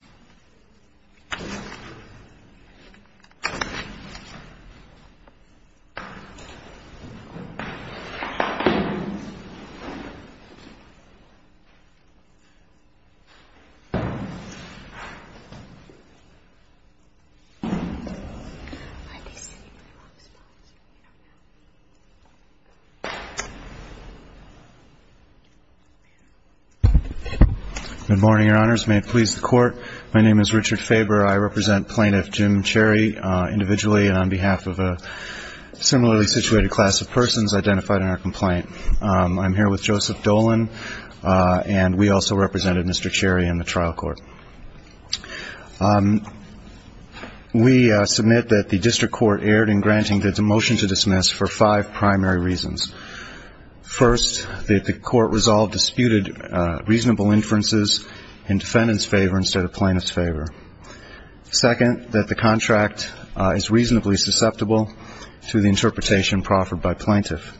BANK OF AMERICA My name is Richard Faber. I represent Plaintiff Jim Cherry individually and on behalf of a similarly situated class of persons identified in our complaint. I'm here with Joseph Dolan and we also represented Mr. Cherry in the trial court. We submit that the district court erred in granting the motion to dismiss for five primary reasons. First, that the court resolved disputed reasonable inferences in defendant's favor instead of plaintiff's favor. Second, that the contract is reasonably susceptible to the interpretation proffered by plaintiff.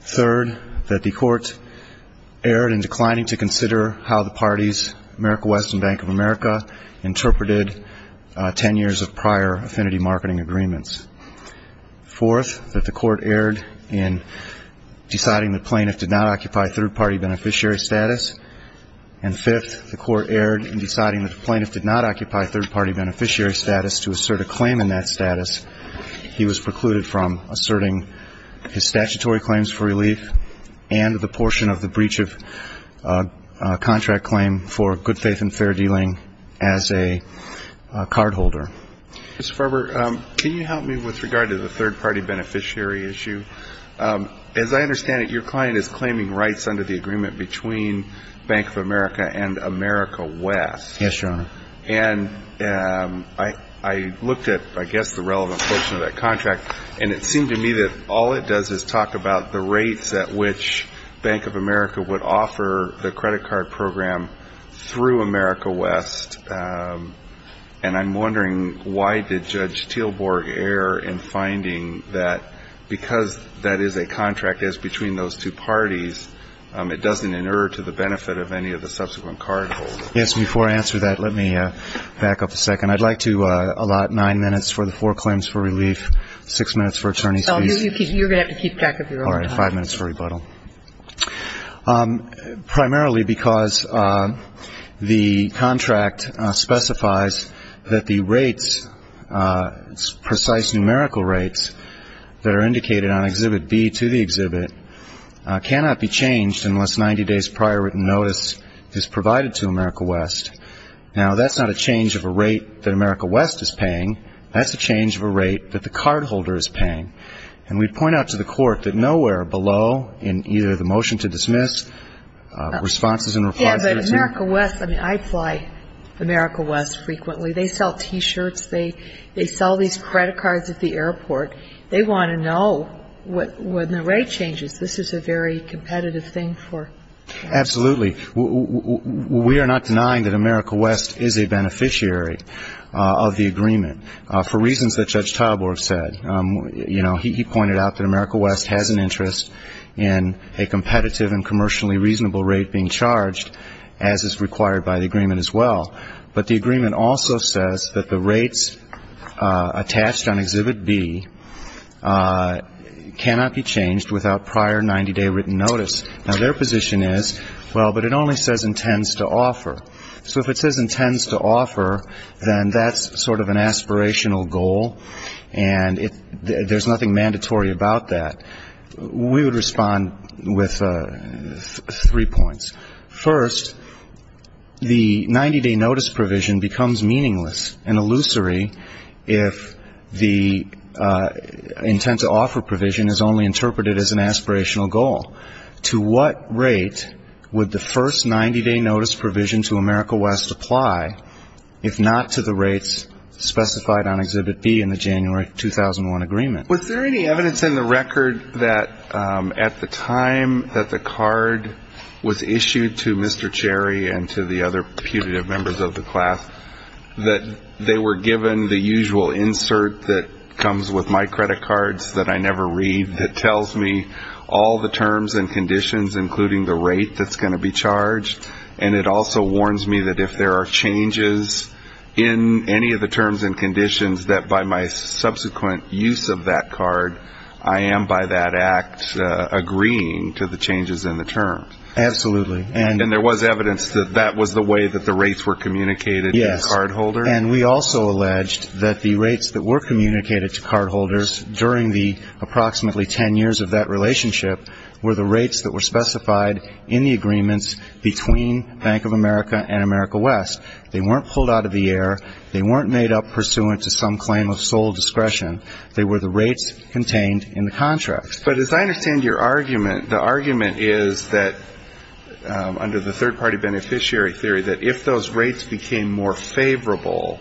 Third, that the court erred in declining to consider how the parties, America West and Bank of America, interpreted ten years of prior affinity marketing agreements. Fourth, that the court erred in deciding the plaintiff did not occupy third-party beneficiary status. And fifth, the court erred in deciding that the plaintiff did not occupy third-party beneficiary status to assert a claim in that status. He was precluded from asserting his statutory claims for relief and the portion of the breach of contract claim for good faith and fair dealing as a cardholder. Mr. Faber, can you help me with regard to the third-party beneficiary issue? As I understand it, your client is claiming rights under the agreement between Bank of America and America West. Yes, Your Honor. And I looked at, I guess, the relevant portion of that contract, and it seemed to me that all it does is talk about the rates at which Bank of America would offer the credit card program through America West. And I'm wondering why did Judge Teelborg err in finding that because that is a contract as between those two parties, it doesn't inerr to the benefit of any of the subsequent cardholders? Yes, before I answer that, let me back up a second. I'd like to allot nine minutes for the four claims for relief, six minutes for attorney's fees. So you're going to have to keep track of your own time. All right. Five minutes for rebuttal. Primarily because the contract specifies that the rates, precise numerical rates that are indicated on Exhibit B to the exhibit cannot be changed unless 90 days prior written notice is provided to America West. Now, that's not a change of a rate that America West is paying. That's a change of a rate that the cardholder is paying. And we point out to the Court that nowhere below in either the motion to dismiss, responses and replies are going to change. Yeah, but America West, I mean, I fly America West frequently. They sell T-shirts. They sell these credit cards at the airport. They want to know when the rate changes. This is a very competitive thing for them. Absolutely. We are not denying that America West is a beneficiary of the agreement for reasons that reasonable rate being charged, as is required by the agreement as well. But the agreement also says that the rates attached on Exhibit B cannot be changed without prior 90-day written notice. Now, their position is, well, but it only says intends to offer. So if it says intends to offer, then that's sort of an aspirational goal. And there's nothing mandatory about that. We would respond with three points. First, the 90-day notice provision becomes meaningless and illusory if the intent to offer provision is only interpreted as an aspirational goal. To what rate would the first 90-day notice provision to America West apply, if not to the rates specified on Exhibit B in the January 2001 agreement? Was there any evidence in the record that at the time that the card was issued to Mr. Cherry and to the other putative members of the class that they were given the usual insert that comes with my credit cards that I never read that tells me all the terms and conditions, including the rate that's going to be charged? And it also warns me that if there are changes in any of the terms and conditions, that by my subsequent use of that card, I am by that act agreeing to the changes in the terms. Absolutely. And there was evidence that that was the way that the rates were communicated to the cardholder? Yes. And we also alleged that the rates that were communicated to cardholders during the approximately ten years of that relationship were the rates that were specified in the agreements between Bank of America and America West. They weren't pulled out of the air. They weren't made up pursuant to some claim of sole discretion. They were the rates contained in the contracts. But as I understand your argument, the argument is that under the third-party beneficiary theory that if those rates became more favorable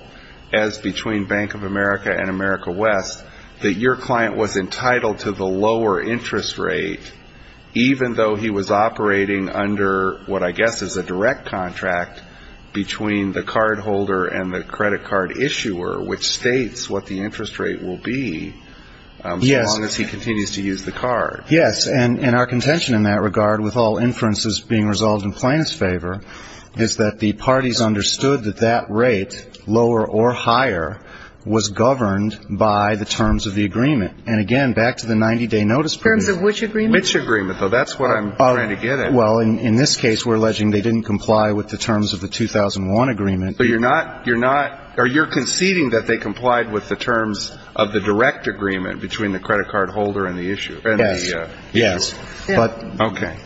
as between Bank of America and America West, that your client was entitled to the lower interest rate, even though he was and the credit card issuer, which states what the interest rate will be so long as he continues to use the card. Yes. And our contention in that regard, with all inferences being resolved in plaintiff's favor, is that the parties understood that that rate, lower or higher, was governed by the terms of the agreement. And again, back to the 90-day notice period. In terms of which agreement? Which agreement, though. That's what I'm trying to get at. Well, in this case, we're alleging they didn't comply with the terms of the 2001 agreement. But you're not, you're not, or you're conceding that they complied with the terms of the direct agreement between the credit card holder and the issuer? Yes. Yes. Okay.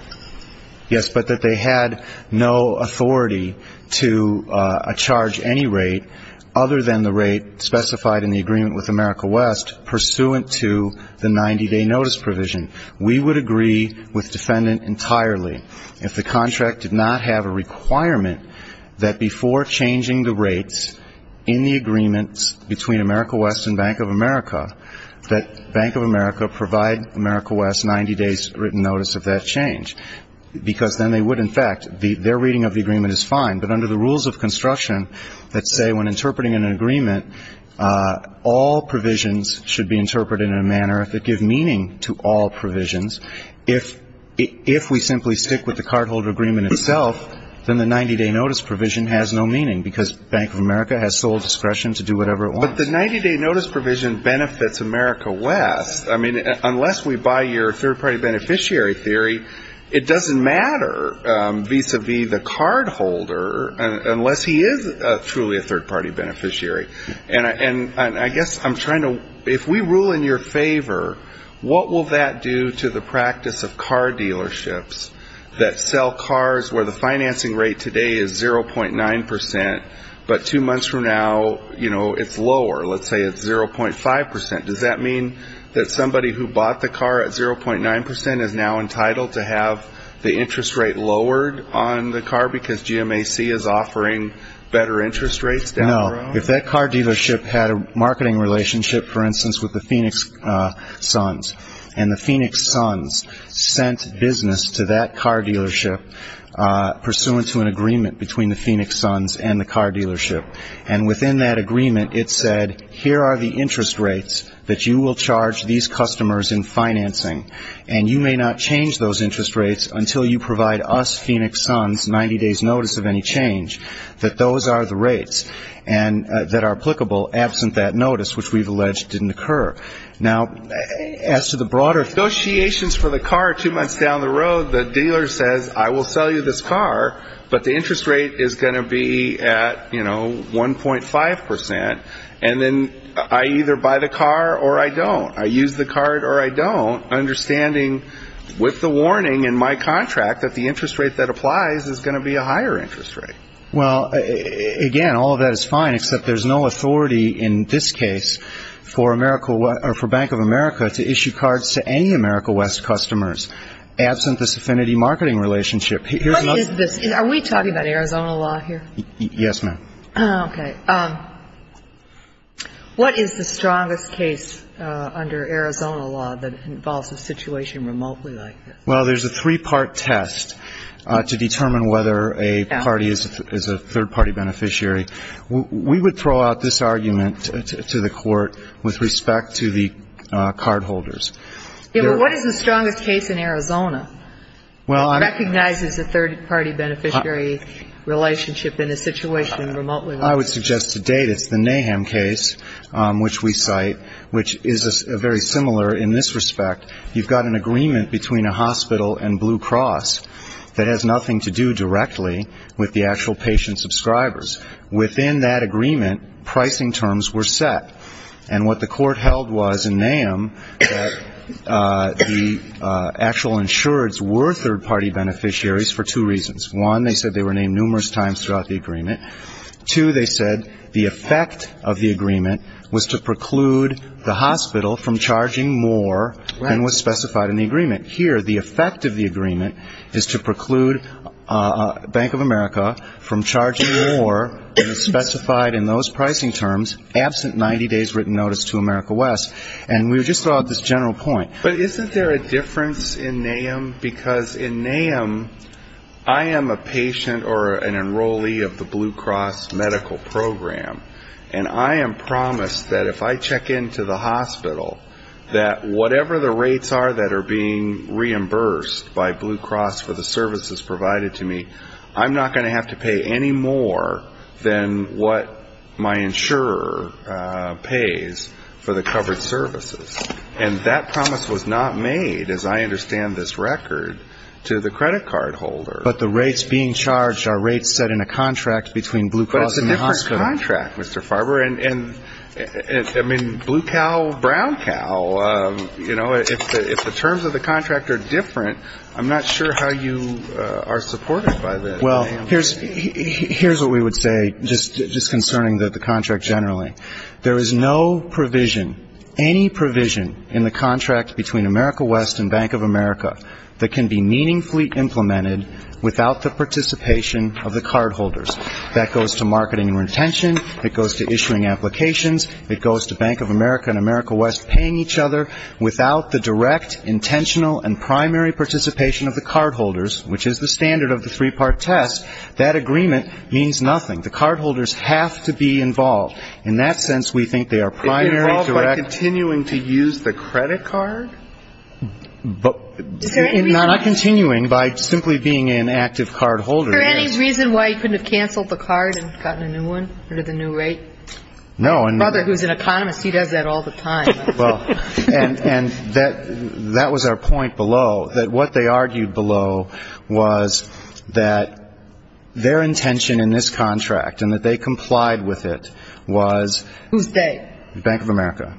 Yes, but that they had no authority to charge any rate other than the rate specified in the agreement with America West pursuant to the 90-day notice provision. We would with defendant entirely if the contract did not have a requirement that before changing the rates in the agreements between America West and Bank of America, that Bank of America provide America West 90 days' written notice of that change. Because then they would, in fact, their reading of the agreement is fine. But under the rules of construction that say when interpreting an agreement, all provisions should be interpreted in a manner that give meaning to all provisions, if we simply stick with the cardholder agreement itself, then the 90-day notice provision has no meaning because Bank of America has sole discretion to do whatever it wants. But the 90-day notice provision benefits America West. I mean, unless we buy your third-party beneficiary theory, it doesn't matter vis-a-vis the cardholder unless he is truly a third-party beneficiary. And I guess I'm trying to, if we rule in your favor, what will that do to the practice of car dealerships that sell cars where the financing rate today is 0.9%, but two months from now, it's lower. Let's say it's 0.5%. Does that mean that somebody who bought the car at 0.9% is now entitled to have the interest rate lowered on the car because GMAC is offering better interest rates down the road? No. If that car dealership had a marketing relationship, for instance, with the Phoenix Sons, and the Phoenix Sons sent business to that car dealership pursuant to an agreement between the Phoenix Sons and the car dealership, and within that agreement it said, here are the interest rates that you will charge these customers in financing, and you may not change those interest rates until you provide us Phoenix Sons 90-days notice of any change, that those are the applicable, absent that notice, which we've alleged didn't occur. Now, as to the broader associations for the car, two months down the road, the dealer says, I will sell you this car, but the interest rate is going to be at, you know, 1.5%, and then I either buy the car or I don't. I use the car or I don't, understanding with the warning in my contract that the interest rate that applies is going to be a higher interest rate. Well, again, all of that is fine, except there's no authority in this case for Bank of America to issue cards to any AmeriCorps West customers, absent this affinity marketing relationship. What is this? Are we talking about Arizona law here? Yes, ma'am. Okay. What is the strongest case under Arizona law that determines whether a party is a third-party beneficiary? We would throw out this argument to the court with respect to the cardholders. Yeah, but what is the strongest case in Arizona that recognizes a third-party beneficiary relationship in a situation remotely? I would suggest to date it's the Nahum case, which we cite, which is very similar in this respect. You've got an agreement between a hospital and Blue Cross that has nothing to do directly with the actual patient subscribers. Within that agreement, pricing terms were set, and what the court held was in Nahum that the actual insureds were third-party beneficiaries for two reasons. One, they said they were named numerous times throughout the agreement. Two, they said the effect of the agreement was to preclude the hospital from charging more than was specified in the agreement. Here, the effect of the agreement is to preclude Bank of America from charging more than is specified in those pricing terms, absent 90 days' written notice to America West, and we would just throw out this general point. But isn't there a difference in Nahum? Because in Nahum, I am a patient or an enrollee of the Blue Cross medical program, and I am promised that if I check into the hospital, that whatever the rates are that are being reimbursed by Blue Cross for the services provided to me, I'm not going to have to pay any more than what my insurer pays for the covered services. And that promise was not made, as I understand this record, to the credit card holder. But the rates being charged are rates set in a contract, Mr. Farber. And, I mean, blue cow, brown cow, you know, if the terms of the contract are different, I'm not sure how you are supported by that. Well, here's what we would say just concerning the contract generally. There is no provision, any provision in the contract between America West and Bank of America that can be meaningfully implemented without the participation of the cardholders. That goes to marketing and retention. It goes to issuing applications. It goes to Bank of America and America West paying each other. Without the direct, intentional, and primary participation of the cardholders, which is the standard of the three-part test, that agreement means nothing. The cardholders have to be involved. In that sense, we think they are primary, direct. Is it involved by continuing to use the credit card? But not continuing by simply being an active cardholder. For any reason why you couldn't have canceled the card and gotten a new one, or the new rate? No. My brother, who's an economist, he does that all the time. Well, and that was our point below, that what they argued below was that their intention in this contract and that they complied with it was. Who's they? Bank of America.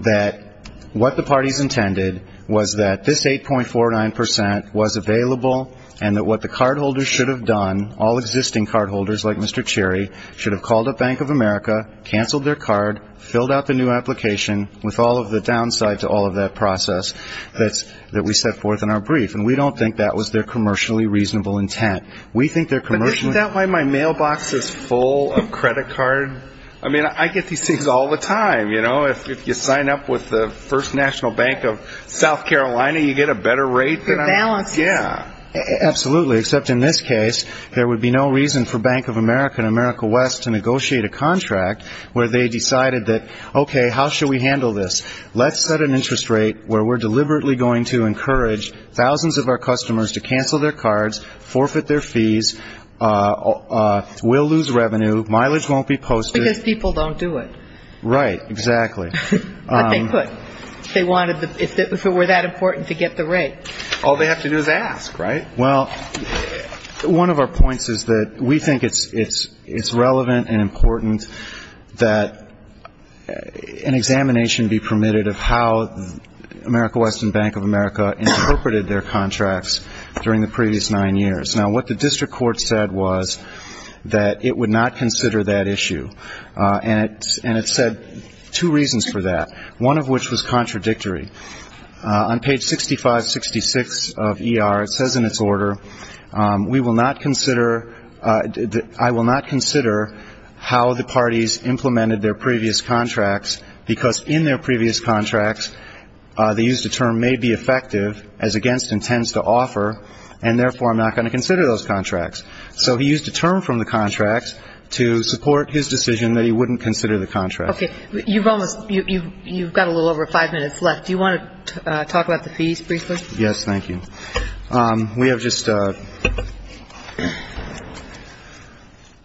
That what the parties intended was that this 8.49% was available, and that what the cardholders should have done, all existing cardholders like Mr. Cherry, should have called up Bank of America, canceled their card, filled out the new application, with all of the downside to all of that process that we set forth in our brief. And we don't think that was their commercially reasonable intent. We think their commercially. But isn't that why my mailbox is full of credit card? I mean, I get these things all the time. You know, if you sign up with the First National Bank of South Carolina, you get a better rate. Good balance. Yeah. Absolutely. Except in this case, there would be no reason for Bank of America and America West to negotiate a contract where they decided that, okay, how should we handle this? Let's set an interest rate where we're deliberately going to encourage thousands of our customers to cancel their cards, forfeit their fees. We'll lose revenue. Mileage won't be posted. Because people don't do it. Right. Exactly. But they could. If it were that important to get the rate. All they have to do is ask, right? Well, one of our points is that we think it's relevant and important that an examination be permitted of how America West and Bank of during the previous nine years. Now, what the district court said was that it would not consider that issue. And it said two reasons for that. One of which was contradictory. On page 6566 of ER, it says in its order, we will not consider, I will not consider how the parties implemented their previous contracts because in their previous contracts, they used a term, may be effective as against intends to offer. And therefore, I'm not going to consider those contracts. So he used a term from the contracts to support his decision that he wouldn't consider the contract. Okay. You've almost, you've got a little over five minutes left. Do you want to talk about the fees briefly? Yes. Thank you. We have just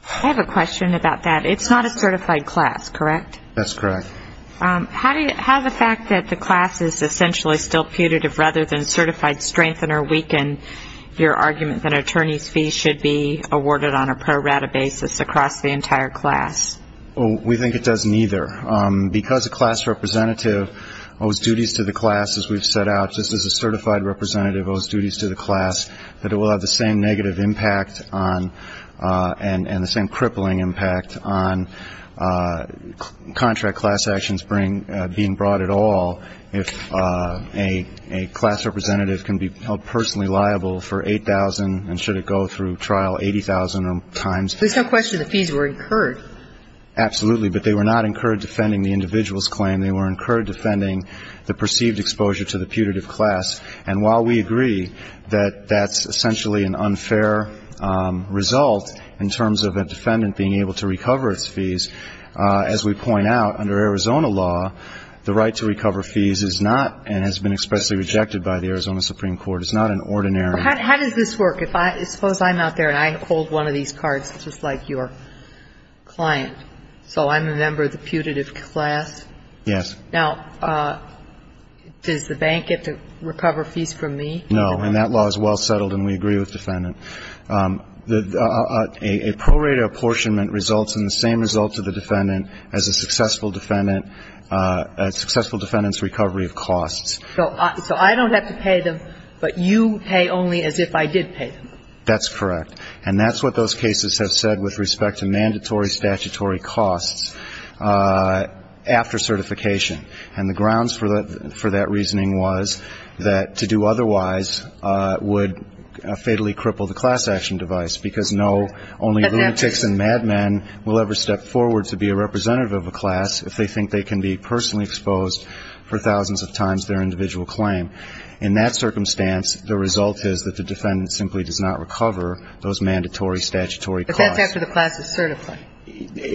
I have a question about that. It's not a certified class, correct? That's correct. How do you, how the fact that the class is essentially still putative rather than certified strengthen or weaken your argument that attorney's fees should be awarded on a pro rata basis across the entire class? Well, we think it does neither. Because a class representative owes duties to the class, as we've set out, just as a certified representative owes duties to the class, that it will have the same negative impact on and the same crippling impact on contract class actions being brought at all if a class representative can be held personally liable for $8,000 and should it go through trial $80,000 or times. There's no question the fees were incurred. Absolutely. But they were not incurred defending the individual's claim. They were incurred defending the perceived exposure to the putative class. And while we agree that that's essentially an unfair result in terms of a defendant being able to recover its fees, as we point out, under Arizona law, the right to recover fees is not and has been expressly rejected by the Arizona Supreme Court. It's not an ordinary. How does this work? Suppose I'm out there and I hold one of these cards just like your client. So I'm a member of the putative class. Yes. Now, does the bank get to recover fees from me? No. And that law is well settled and we agree with defendant. A pro rata apportionment results in the same result to the defendant as a successful defendant, a successful defendant's recovery of costs. So I don't have to pay them, but you pay only as if I did pay them. That's correct. And that's what those cases have said with respect to mandatory statutory costs after certification. And the grounds for that reasoning was that to do otherwise would fatally cripple the class action device because no, only lunatics and madmen will ever step forward to be a representative of a class if they think they can be personally exposed for thousands of times their individual claim. In that circumstance, the result is that the defendant simply does not recover those mandatory statutory costs. But that's after the class is certified.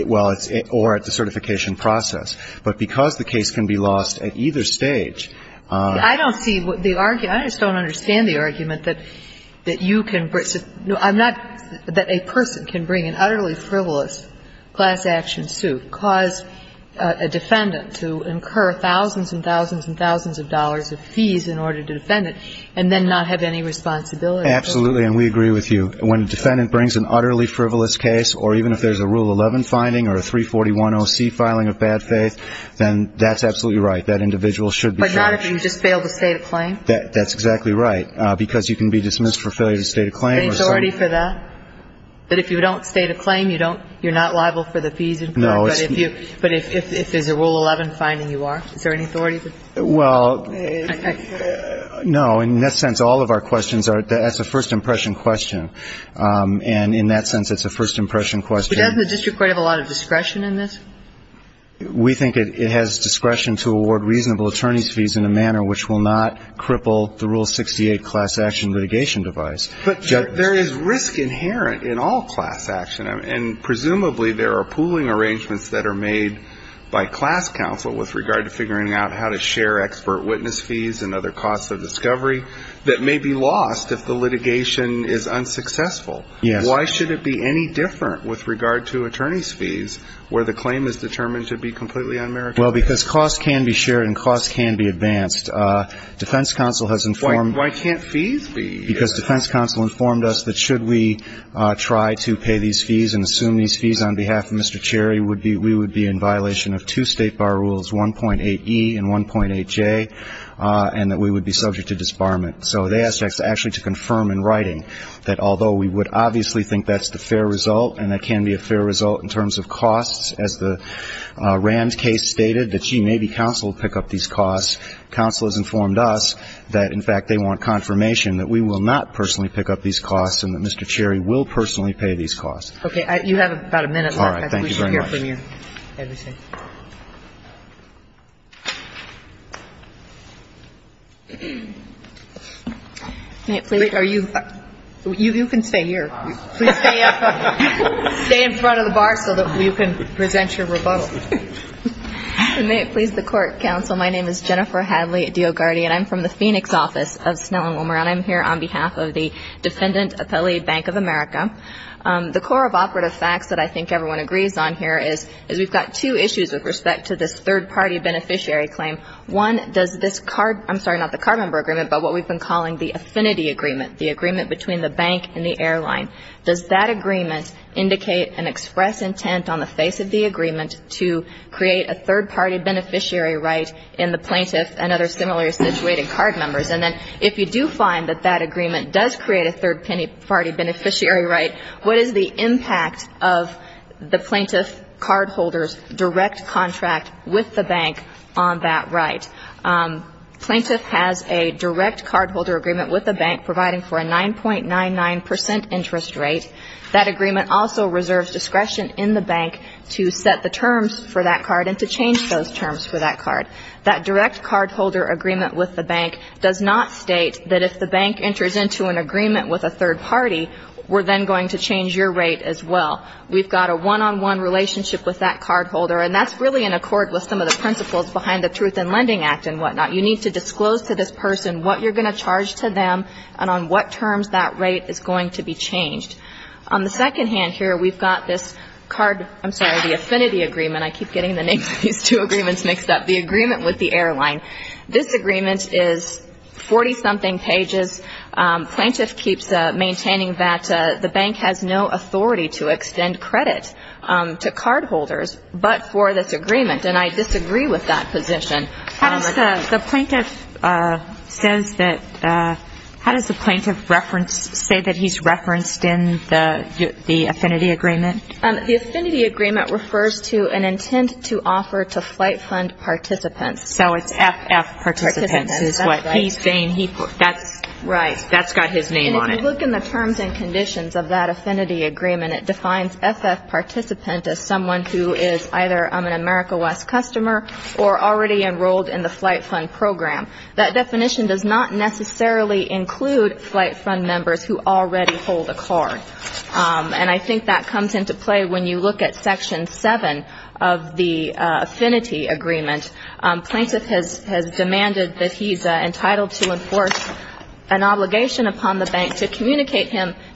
Well, it's or at the certification process. But because the case can be lost at either stage. I don't see the argument. I just don't understand the argument that that you can I'm not that a person can bring an utterly frivolous class action suit, cause a defendant to incur thousands and thousands and thousands of dollars of fees in order to defend it, and then not have any responsibility. Absolutely. And we agree with you. When a defendant brings an utterly frivolous case or even if there's a Rule 11 finding or a 341OC filing of bad faith, then that's absolutely right. That individual should be charged. But not if you just fail to state a claim? That's exactly right. Because you can be dismissed for failure to state a claim. Is there any authority for that? That if you don't state a claim, you don't, you're not liable for the fees? No, it's not. But if there's a Rule 11 finding, you are? Is there any authority? Well, no. In that sense, all of our questions are, that's a first impression question. And in that sense, it's a first impression question. Doesn't the district court have a lot of discretion in this? We think it has discretion to award reasonable attorney's fees in a manner which will not cripple the Rule 68 class action litigation device. But there is risk inherent in all class action. And presumably, there are pooling arrangements that are made by class counsel with regard to figuring out how to share expert witness fees and other costs of discovery that may be lost if the litigation is unsuccessful. Yes. Why should it be any different with regard to attorney's fees where the claim is determined to be completely unmerited? Well, because costs can be shared and costs can be advanced. Defense counsel has informed... Why can't fees be... Because defense counsel informed us that should we try to pay these fees and assume these fees on behalf of Mr. Cherry, we would be in violation of two state bar rules, 1.8E and 1.8J, and that we would be subject to disbarment. So they asked us actually to confirm in writing that although we would obviously think that's the fair result, and that can be a fair result in terms of costs, as the Rands case stated, that, gee, maybe counsel would pick up these costs, counsel has informed us that, in fact, they want confirmation that we will not personally pick up these costs and that Mr. Cherry will personally pay these costs. Okay. You have about a minute left. All right. Thank you very much. I think we should hear from you everything. Can you please... Are you... You can stay here. Please stay in front of the bar so that we can present your rebuttal. May it please the court, counsel, my name is Jennifer Hadley-Diogardi, and I'm from the Phoenix office of Snell and Wilmer, and I'm here on behalf of the Defendant Appellee Bank of America. The core of operative facts that I think everyone agrees on here is we've got two issues with respect to this third-party beneficiary claim. One, does this card... I'm sorry, not the card member agreement, but what we've been calling the affinity agreement, the agreement between the bank and the airline. Does that agreement indicate and express intent on the face of the agreement to create a third-party beneficiary right in the plaintiff and other similarly situated card members? And then if you do find that that agreement does create a third-party beneficiary right, what is the impact of the plaintiff cardholder's direct contract with the bank on that right? Plaintiff has a direct cardholder agreement with the bank providing for a 9.99% interest rate. That agreement also reserves discretion in the bank to set the terms for that card and to change those terms for that card. That direct cardholder agreement with the bank does not state that if the bank enters into an agreement with a third party, we're then going to change your rate as well. We've got a one-on-one relationship with that cardholder, and that's really in need to disclose to this person what you're going to charge to them and on what terms that rate is going to be changed. On the second hand here, we've got this card, I'm sorry, the affinity agreement. I keep getting the names of these two agreements mixed up. The agreement with the airline. This agreement is 40-something pages. Plaintiff keeps maintaining that the bank has no authority to extend credit to cardholders but for this agreement, and I disagree with that position. The plaintiff says that, how does the plaintiff reference, say that he's referenced in the affinity agreement? The affinity agreement refers to an intent to offer to flight fund participants. So it's FF participants is what he's saying. Right. That's got his name on it. And if you look in the terms and conditions of that affinity agreement, it defines FF participant as someone who is either an America West customer or already enrolled in the flight fund program. That definition does not necessarily include flight fund members who already hold a card. And I think that comes into play when you look at section 7 of the affinity agreement. Plaintiff has demanded that he's entitled to enforce an obligation upon the bank to communicate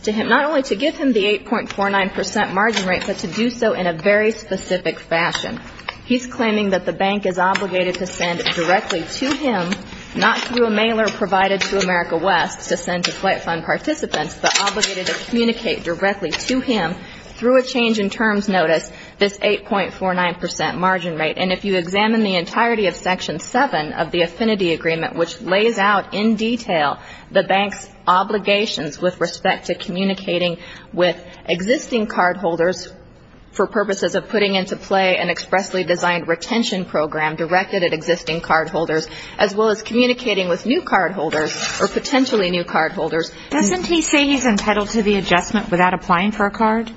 to him, not only to give him the 8.49% margin rate, but to do so in a very specific fashion. He's claiming that the bank is obligated to send directly to him, not through a mailer provided to America West to send to flight fund participants, but obligated to communicate directly to him through a change in terms notice this 8.49% margin rate. And if you examine the entirety of section 7 of the affinity agreement, which lays out in detail the bank's obligations with respect to communicating with retention program directed at existing cardholders as well as communicating with new cardholders or potentially new cardholders. Doesn't he say he's entitled to the adjustment without applying for a card?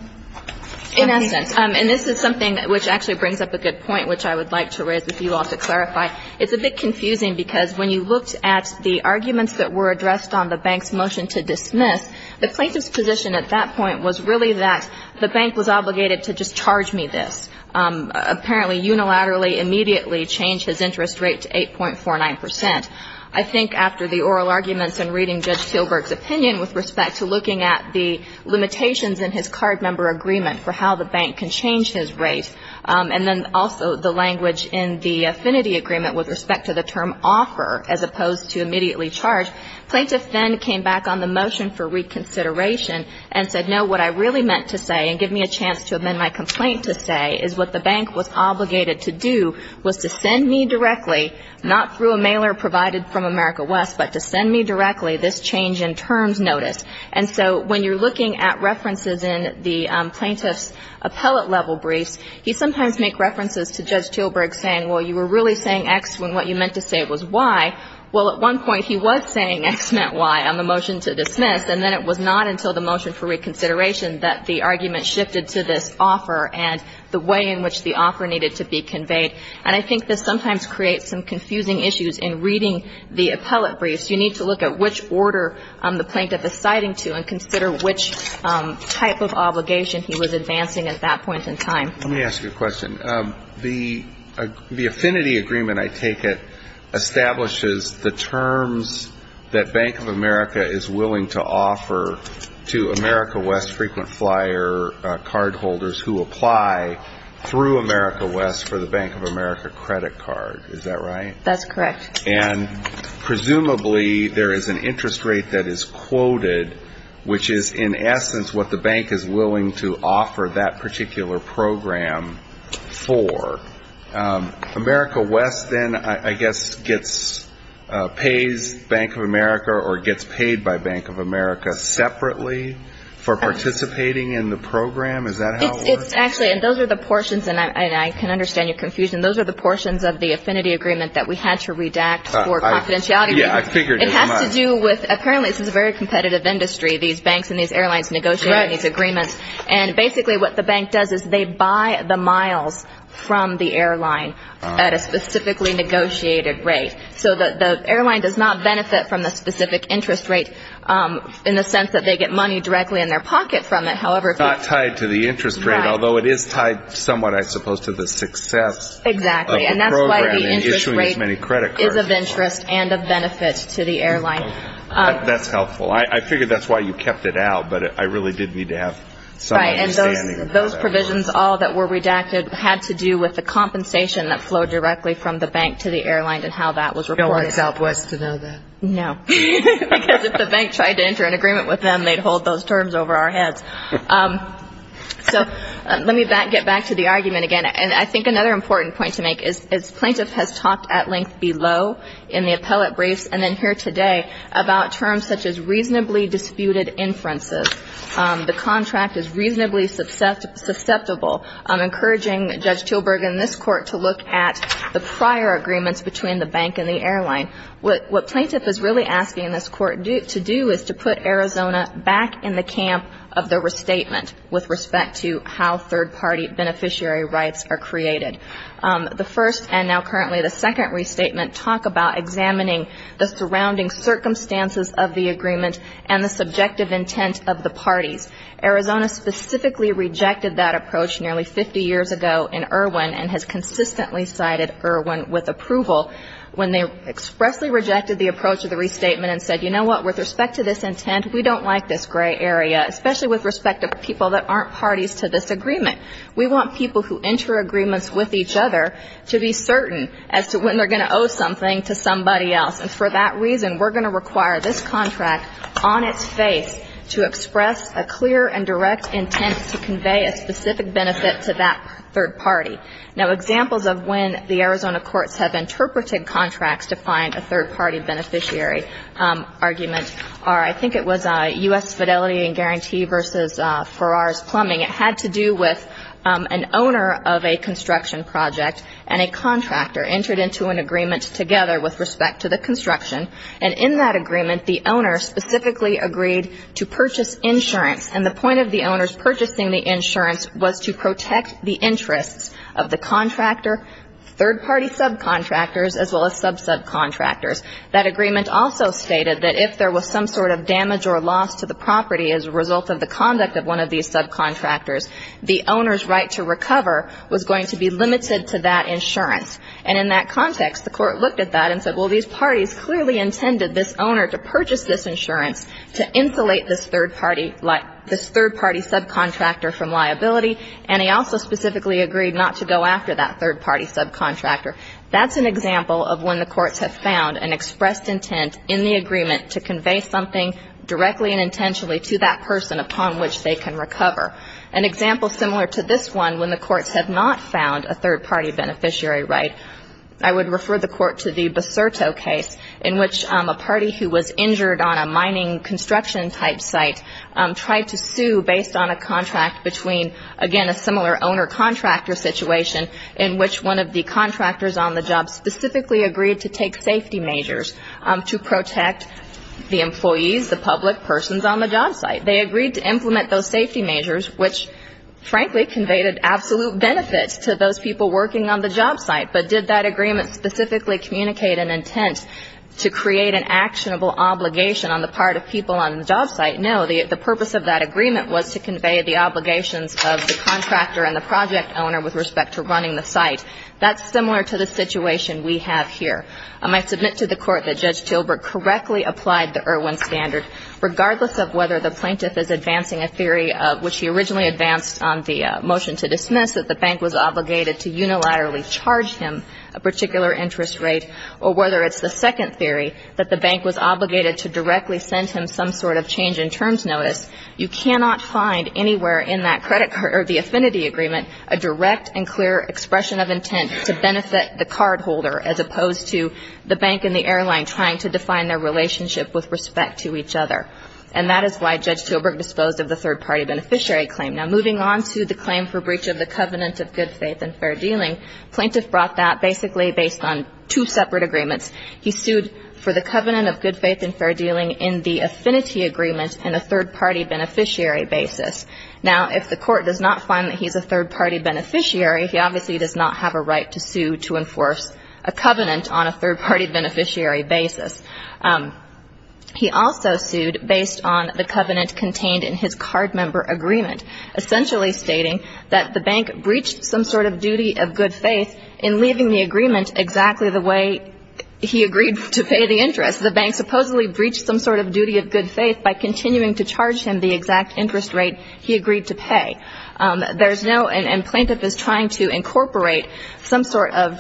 In essence. And this is something which actually brings up a good point which I would like to raise with you all to clarify. It's a bit confusing because when you looked at the arguments that were addressed on the bank's motion to dismiss, the plaintiff's position at that point was really that the bank was obligated to just charge me this. Apparently unilaterally, immediately change his interest rate to 8.49%. I think after the oral arguments and reading Judge Teelberg's opinion with respect to looking at the limitations in his card member agreement for how the bank can change his rate, and then also the language in the affinity agreement with respect to the term offer as opposed to immediately charge, plaintiff then came back on the motion for reconsideration and said, no, what I really meant to say and give me a chance to amend my complaint to say is what the bank was obligated to do was to send me directly, not through a mailer provided from America West, but to send me directly this change in terms notice. And so when you're looking at references in the plaintiff's appellate level briefs, he sometimes makes references to Judge Teelberg saying, well, you were really saying X when what you meant to say was Y. Well, at one point he was saying X meant Y on the motion to dismiss and then it was not until the motion for reconsideration that the argument shifted to this offer and the way in which the offer needed to be conveyed. And I think this sometimes creates some confusing issues in reading the appellate briefs. You need to look at which order the plaintiff is citing to and consider which type of obligation he was advancing at that point in time. Let me ask you a question. The affinity agreement, I take it, establishes the terms that Bank of America is willing to offer to America West frequent flyer card holders who apply through America West for the Bank of America credit card. Is that right? That's correct. And presumably there is an interest rate that is quoted, which is in essence what the bank is willing to offer that particular program for. America West then, I guess, gets pays Bank of America or gets paid by Bank of America separately for participating in the program. Is that how it works? Actually, and those are the portions and I can understand your confusion. Those are the portions of the affinity agreement that we had to redact for confidentiality. Yeah, I figured it has to do with apparently this is a very competitive industry. These banks and these airlines negotiate these agreements. And basically what the bank does is they buy the miles from the airline at a specifically negotiated rate. So the airline does not benefit from the specific interest rate in the sense that they get money directly in their pocket from it. However, it's not tied to the interest rate, although it is tied somewhat, I suppose, to the success. Exactly. And that's why the interest rate is of interest and of benefit to the airline. That's helpful. I figured that's why you kept it out, but I really did need to have some understanding. Those provisions all that were redacted had to do with the compensation that flowed directly from the bank to the airline and how that was reported. You don't want Southwest to know that. No, because if the bank tried to enter an agreement with them, they'd hold those terms over our heads. So let me get back to the argument again. And I think another important point to make is plaintiff has talked at length in the appellate briefs and then here today about terms such as reasonably disputed inferences. The contract is reasonably susceptible. I'm encouraging Judge Tilburg in this court to look at the prior agreements between the bank and the airline. What plaintiff is really asking this court to do is to put Arizona back in the camp of the restatement with respect to how third-party beneficiary rights are created. The first and now currently the second restatement talk about examining the surrounding circumstances of the agreement and the subjective intent of the parties. Arizona specifically rejected that approach nearly 50 years ago in Irwin and has consistently cited Irwin with approval when they expressly rejected the approach of the restatement and said, you know what, with respect to this intent, we don't like this gray area, especially with respect to people that aren't parties to this agreement. We want people who enter agreements with each other to be certain as to when they're going to owe something to somebody else. And for that reason, we're going to require this contract on its face to express a clear and direct intent to convey a specific benefit to that third party. Now, examples of when the Arizona courts have interpreted contracts to find a third-party beneficiary argument are, I think it was U.S. Fidelity and Guarantee versus Farrar's Plumbing. It had to do with an owner of a construction project and a contractor entered into an agreement together with respect to the construction. And in that agreement, the owner specifically agreed to purchase insurance. And the point of the owners purchasing the insurance was to protect the interests of the contractor, third-party subcontractors, as well as sub-subcontractors. That agreement also stated that if there was some sort of damage or loss to the the owner's right to recover was going to be limited to that insurance. And in that context, the Court looked at that and said, well, these parties clearly intended this owner to purchase this insurance to insulate this third-party like this third-party subcontractor from liability. And they also specifically agreed not to go after that third-party subcontractor. That's an example of when the courts have found an expressed intent in the agreement to convey something directly and intentionally to that person upon which they can recover. An example similar to this one, when the courts have not found a third-party beneficiary right, I would refer the Court to the Baserto case in which a party who was injured on a mining construction-type site tried to sue based on a contract between, again, a similar owner-contractor situation in which one of the contractors on the job specifically agreed to take safety measures to protect the employees, the public persons on the job site. They agreed to implement those safety measures, which, frankly, conveyed an absolute benefit to those people working on the job site. But did that agreement specifically communicate an intent to create an actionable obligation on the part of people on the job site? No, the purpose of that agreement was to convey the obligations of the contractor and the project owner with respect to running the site. That's similar to the situation we have here. I might submit to the Court that Judge Tilburg correctly applied the Irwin is advancing a theory of which he originally advanced on the motion to dismiss, that the bank was obligated to unilaterally charge him a particular interest rate, or whether it's the second theory, that the bank was obligated to directly send him some sort of change-in-terms notice. You cannot find anywhere in that credit card or the affinity agreement a direct and clear expression of intent to benefit the cardholder as opposed to the bank and the airline trying to define their relationship with respect to each other. And that is why Judge Tilburg disposed of the third-party beneficiary claim. Now, moving on to the claim for breach of the covenant of good faith and fair dealing, plaintiff brought that basically based on two separate agreements. He sued for the covenant of good faith and fair dealing in the affinity agreement in a third-party beneficiary basis. Now, if the Court does not find that he's a third-party beneficiary, he obviously does not have a right to sue to enforce a covenant on a third-party beneficiary basis. He also sued based on the covenant contained in his card member agreement, essentially stating that the bank breached some sort of duty of good faith in leaving the agreement exactly the way he agreed to pay the interest. The bank supposedly breached some sort of duty of good faith by continuing to charge him the exact interest rate he agreed to pay. There's no – and plaintiff is trying to incorporate some sort of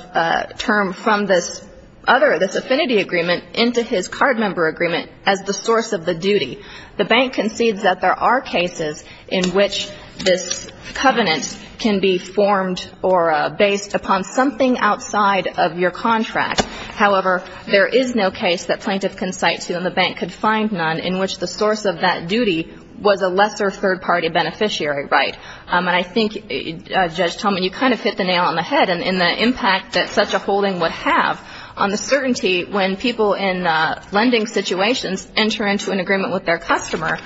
term from this affinity agreement into his card member agreement as the source of the duty. The bank concedes that there are cases in which this covenant can be formed or based upon something outside of your contract. However, there is no case that plaintiff can cite to and the bank could find none in which the source of that duty was a lesser third-party beneficiary right. And I think, Judge Tolman, you kind of hit the nail on the head in the impact that such a holding would have on the certainty when people in lending situations enter into an agreement with their customer.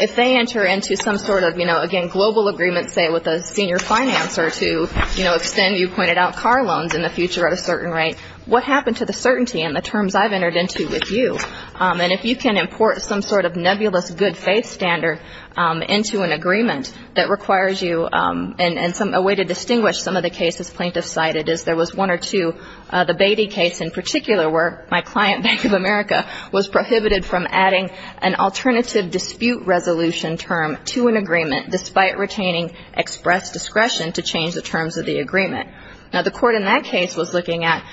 If they enter into some sort of, you know, again, global agreement, say, with a senior financer to, you know, extend, you pointed out, car loans in the future at a certain rate, what happened to the certainty and the terms I've entered into with you? And if you can import some sort of nebulous good faith standard into an agreement that requires you – and a way to distinguish some of the cases plaintiff cited is there was one or two, the Beatty case in particular where my client, Bank of America, was prohibited from adding an alternative dispute resolution term to an agreement despite retaining express discretion to change the terms of the agreement. Now, the court in that case was looking at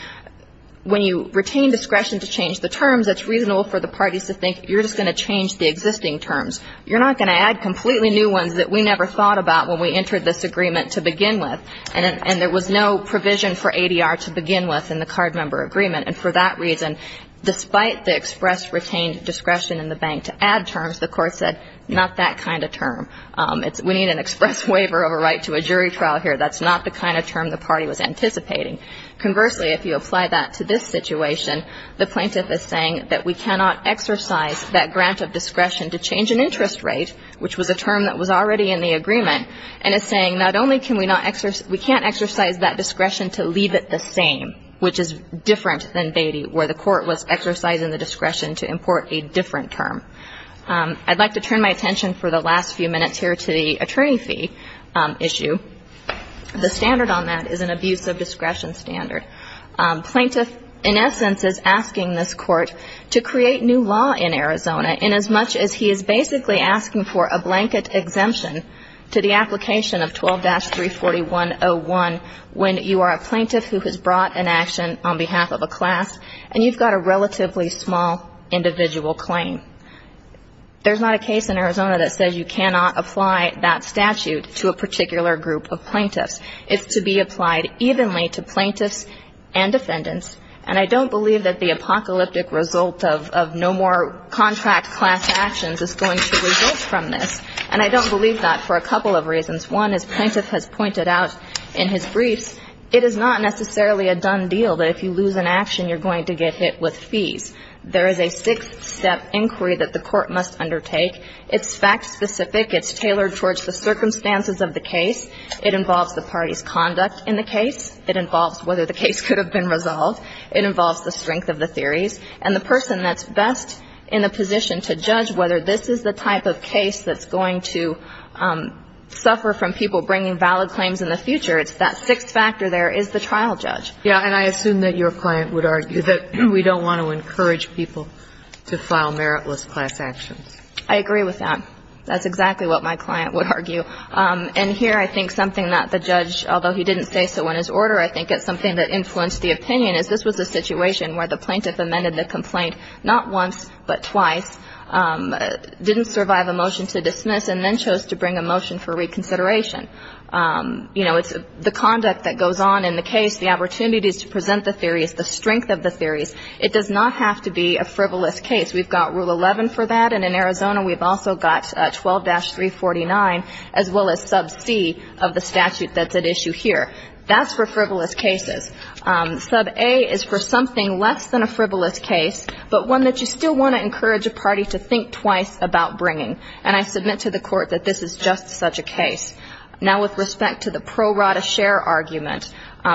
when you retain discretion to change the terms, it's reasonable for the parties to think you're just going to change the existing terms. You're not going to add completely new ones that we never thought about when we entered this agreement to begin with. And there was no provision for ADR to begin with in the card member agreement. And for that reason, despite the express retained discretion in the bank to add terms, the court said not that kind of term. We need an express waiver over right to a jury trial here. That's not the kind of term the party was anticipating. Conversely, if you apply that to this situation, the plaintiff is saying that we cannot exercise that grant of discretion to change an interest rate, which was a term that was already in the agreement, and is saying not only can we not exercise, we can't exercise that discretion to leave it the same, which is different than Beatty, where the court was exercising the discretion to import a different term. I'd like to turn my attention for the last few minutes here to the attorney fee issue. The standard on that is an abuse of discretion standard. Plaintiff in essence is asking this court to create new law in Arizona inasmuch as he is basically asking for a blanket exemption to the application of 12-34101 when you are a plaintiff who has brought an action on behalf of a class and you've got a relatively small individual claim. There's not a case in Arizona that says you cannot apply that statute to a particular group of plaintiffs. It's to be applied evenly to plaintiffs and defendants, and I don't believe that the apocalyptic result of no more contract class actions is going to result from this, and I don't believe that for a couple of reasons. One is plaintiff has pointed out in his briefs it is not necessarily a done deal that if you lose an action, you're going to get hit with fees. There is a six-step inquiry that the court must undertake. It's fact-specific. It's tailored towards the circumstances of the case. It involves the party's conduct in the case. It involves whether the case could have been resolved. It involves the strength of the theories, and the person that's best in the position to judge whether this is the type of case that's going to suffer from people bringing valid claims in the future, it's that sixth factor there, is the trial judge. Yeah, and I assume that your client would argue that we don't want to encourage people to file meritless class actions. I agree with that. That's exactly what my client would argue, and here I think something that the judge, although he didn't say so in his order, I think it's something that influenced the opinion is this was a situation where the plaintiff amended the complaint not once, but twice, didn't survive a motion to dismiss, and then chose to bring a motion for reconsideration. You know, it's the conduct that goes on in the case, the opportunities to present the theories, the strength of the theories. It does not have to be a frivolous case. We've got Rule 11 for that, and in Arizona we've also got 12-349, as well as Sub C of the statute that's at issue here. That's for frivolous cases. Sub A is for something less than a frivolous case, but one that you still want to encourage a party to think twice about bringing, and I submit to the court that this is just such a case. Now, with respect to the pro rata share argument,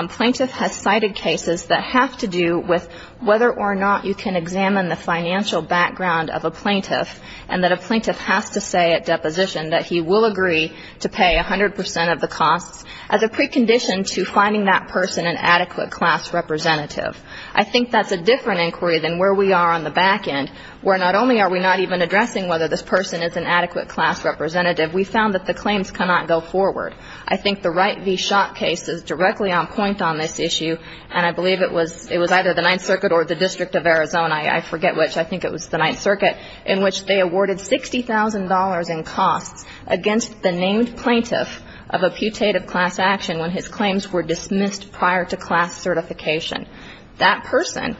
plaintiff has cited cases that have to do with whether or not you can examine the financial background of a plaintiff, and that a plaintiff has to say at deposition that he will agree to pay 100 percent of the costs as a precondition to finding that person an adequate class representative. I think that's a different inquiry than where we are on the back end, where not only are we not even addressing whether this person is an adequate class representative, we found that the claims cannot go forward. I think the Wright v. Schott case is directly on point on this issue, and I believe it was either the Ninth Circuit or the District of Arizona, I forget which. I think it was the Ninth Circuit, in which they awarded $60,000 in costs against the claims were dismissed prior to class certification. That person,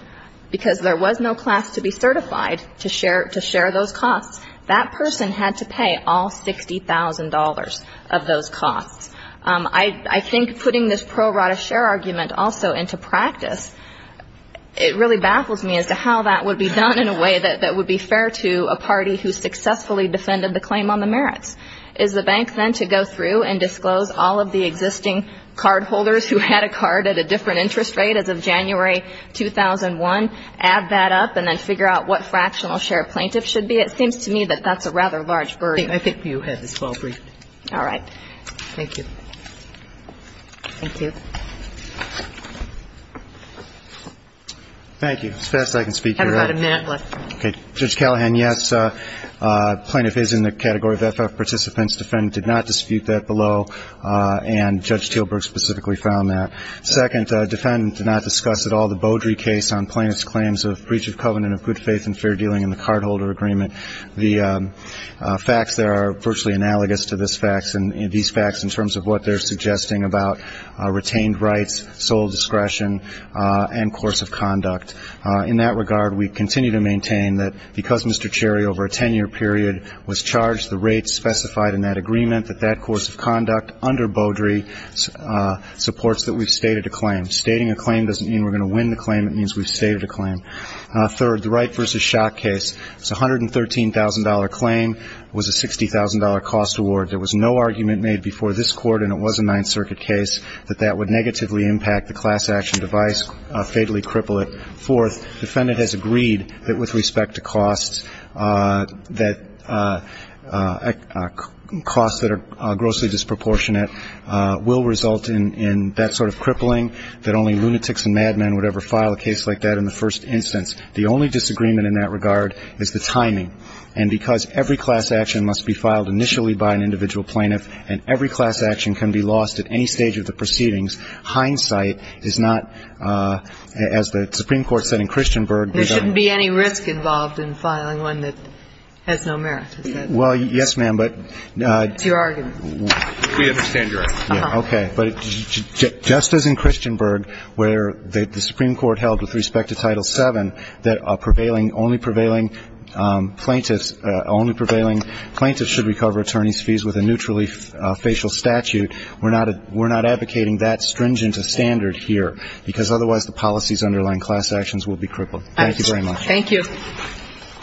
because there was no class to be certified to share those costs, that person had to pay all $60,000 of those costs. I think putting this pro rata share argument also into practice, it really baffles me as to how that would be done in a way that would be fair to a party who successfully defended the claim on the merits. Is the bank then to go through and disclose all of the existing cardholders who had a card at a different interest rate as of January 2001, add that up, and then figure out what fractional share plaintiffs should be? It seems to me that that's a rather large burden. I think you had this well briefed. All right. Thank you. Thank you. Thank you. As fast as I can speak, you're right. We have about a minute left. Judge Callahan, yes. The first category of FF participants, defendant did not dispute that below, and Judge Teelburg specifically found that. Second, defendant did not discuss at all the Beaudry case on plaintiff's claims of breach of covenant of good faith and fair dealing in the cardholder agreement. The facts there are virtually analogous to these facts in terms of what they're suggesting about retained rights, sole discretion, and course of conduct. In that regard, we continue to maintain that because Mr. Cherry over a 10-year period was rates specified in that agreement, that that course of conduct under Beaudry supports that we've stated a claim. Stating a claim doesn't mean we're going to win the claim. It means we've stated a claim. Third, the Wright v. Schock case, it's a $113,000 claim, was a $60,000 cost award. There was no argument made before this court, and it was a Ninth Circuit case, that that would negatively impact the class action device, fatally cripple it. Fourth, defendant has agreed that with respect to costs, that costs that are grossly disproportionate will result in that sort of crippling, that only lunatics and madmen would ever file a case like that in the first instance. The only disagreement in that regard is the timing. And because every class action must be filed initially by an individual plaintiff, and every class action can be lost at any stage of the proceedings, hindsight is not, as the court said in Christianburg, There shouldn't be any risk involved in filing one that has no merit, is that? Well, yes, ma'am, but It's your argument. We understand your argument. Okay. But just as in Christianburg, where the Supreme Court held with respect to Title VII, that a prevailing, only prevailing plaintiffs, only prevailing plaintiffs should recover attorney's fees with a neutrally facial statute, we're not advocating that stringent a standard here, because otherwise the policies underlying class actions will be crippled. Thank you very much. Thank you.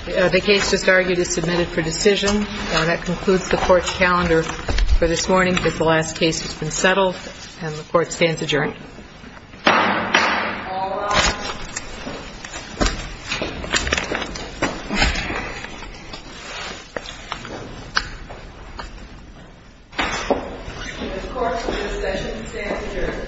The case just argued is submitted for decision, and that concludes the court's calendar for this morning. The last case has been settled, and the court stands adjourned. All rise. The court for this session stands adjourned. Thank you.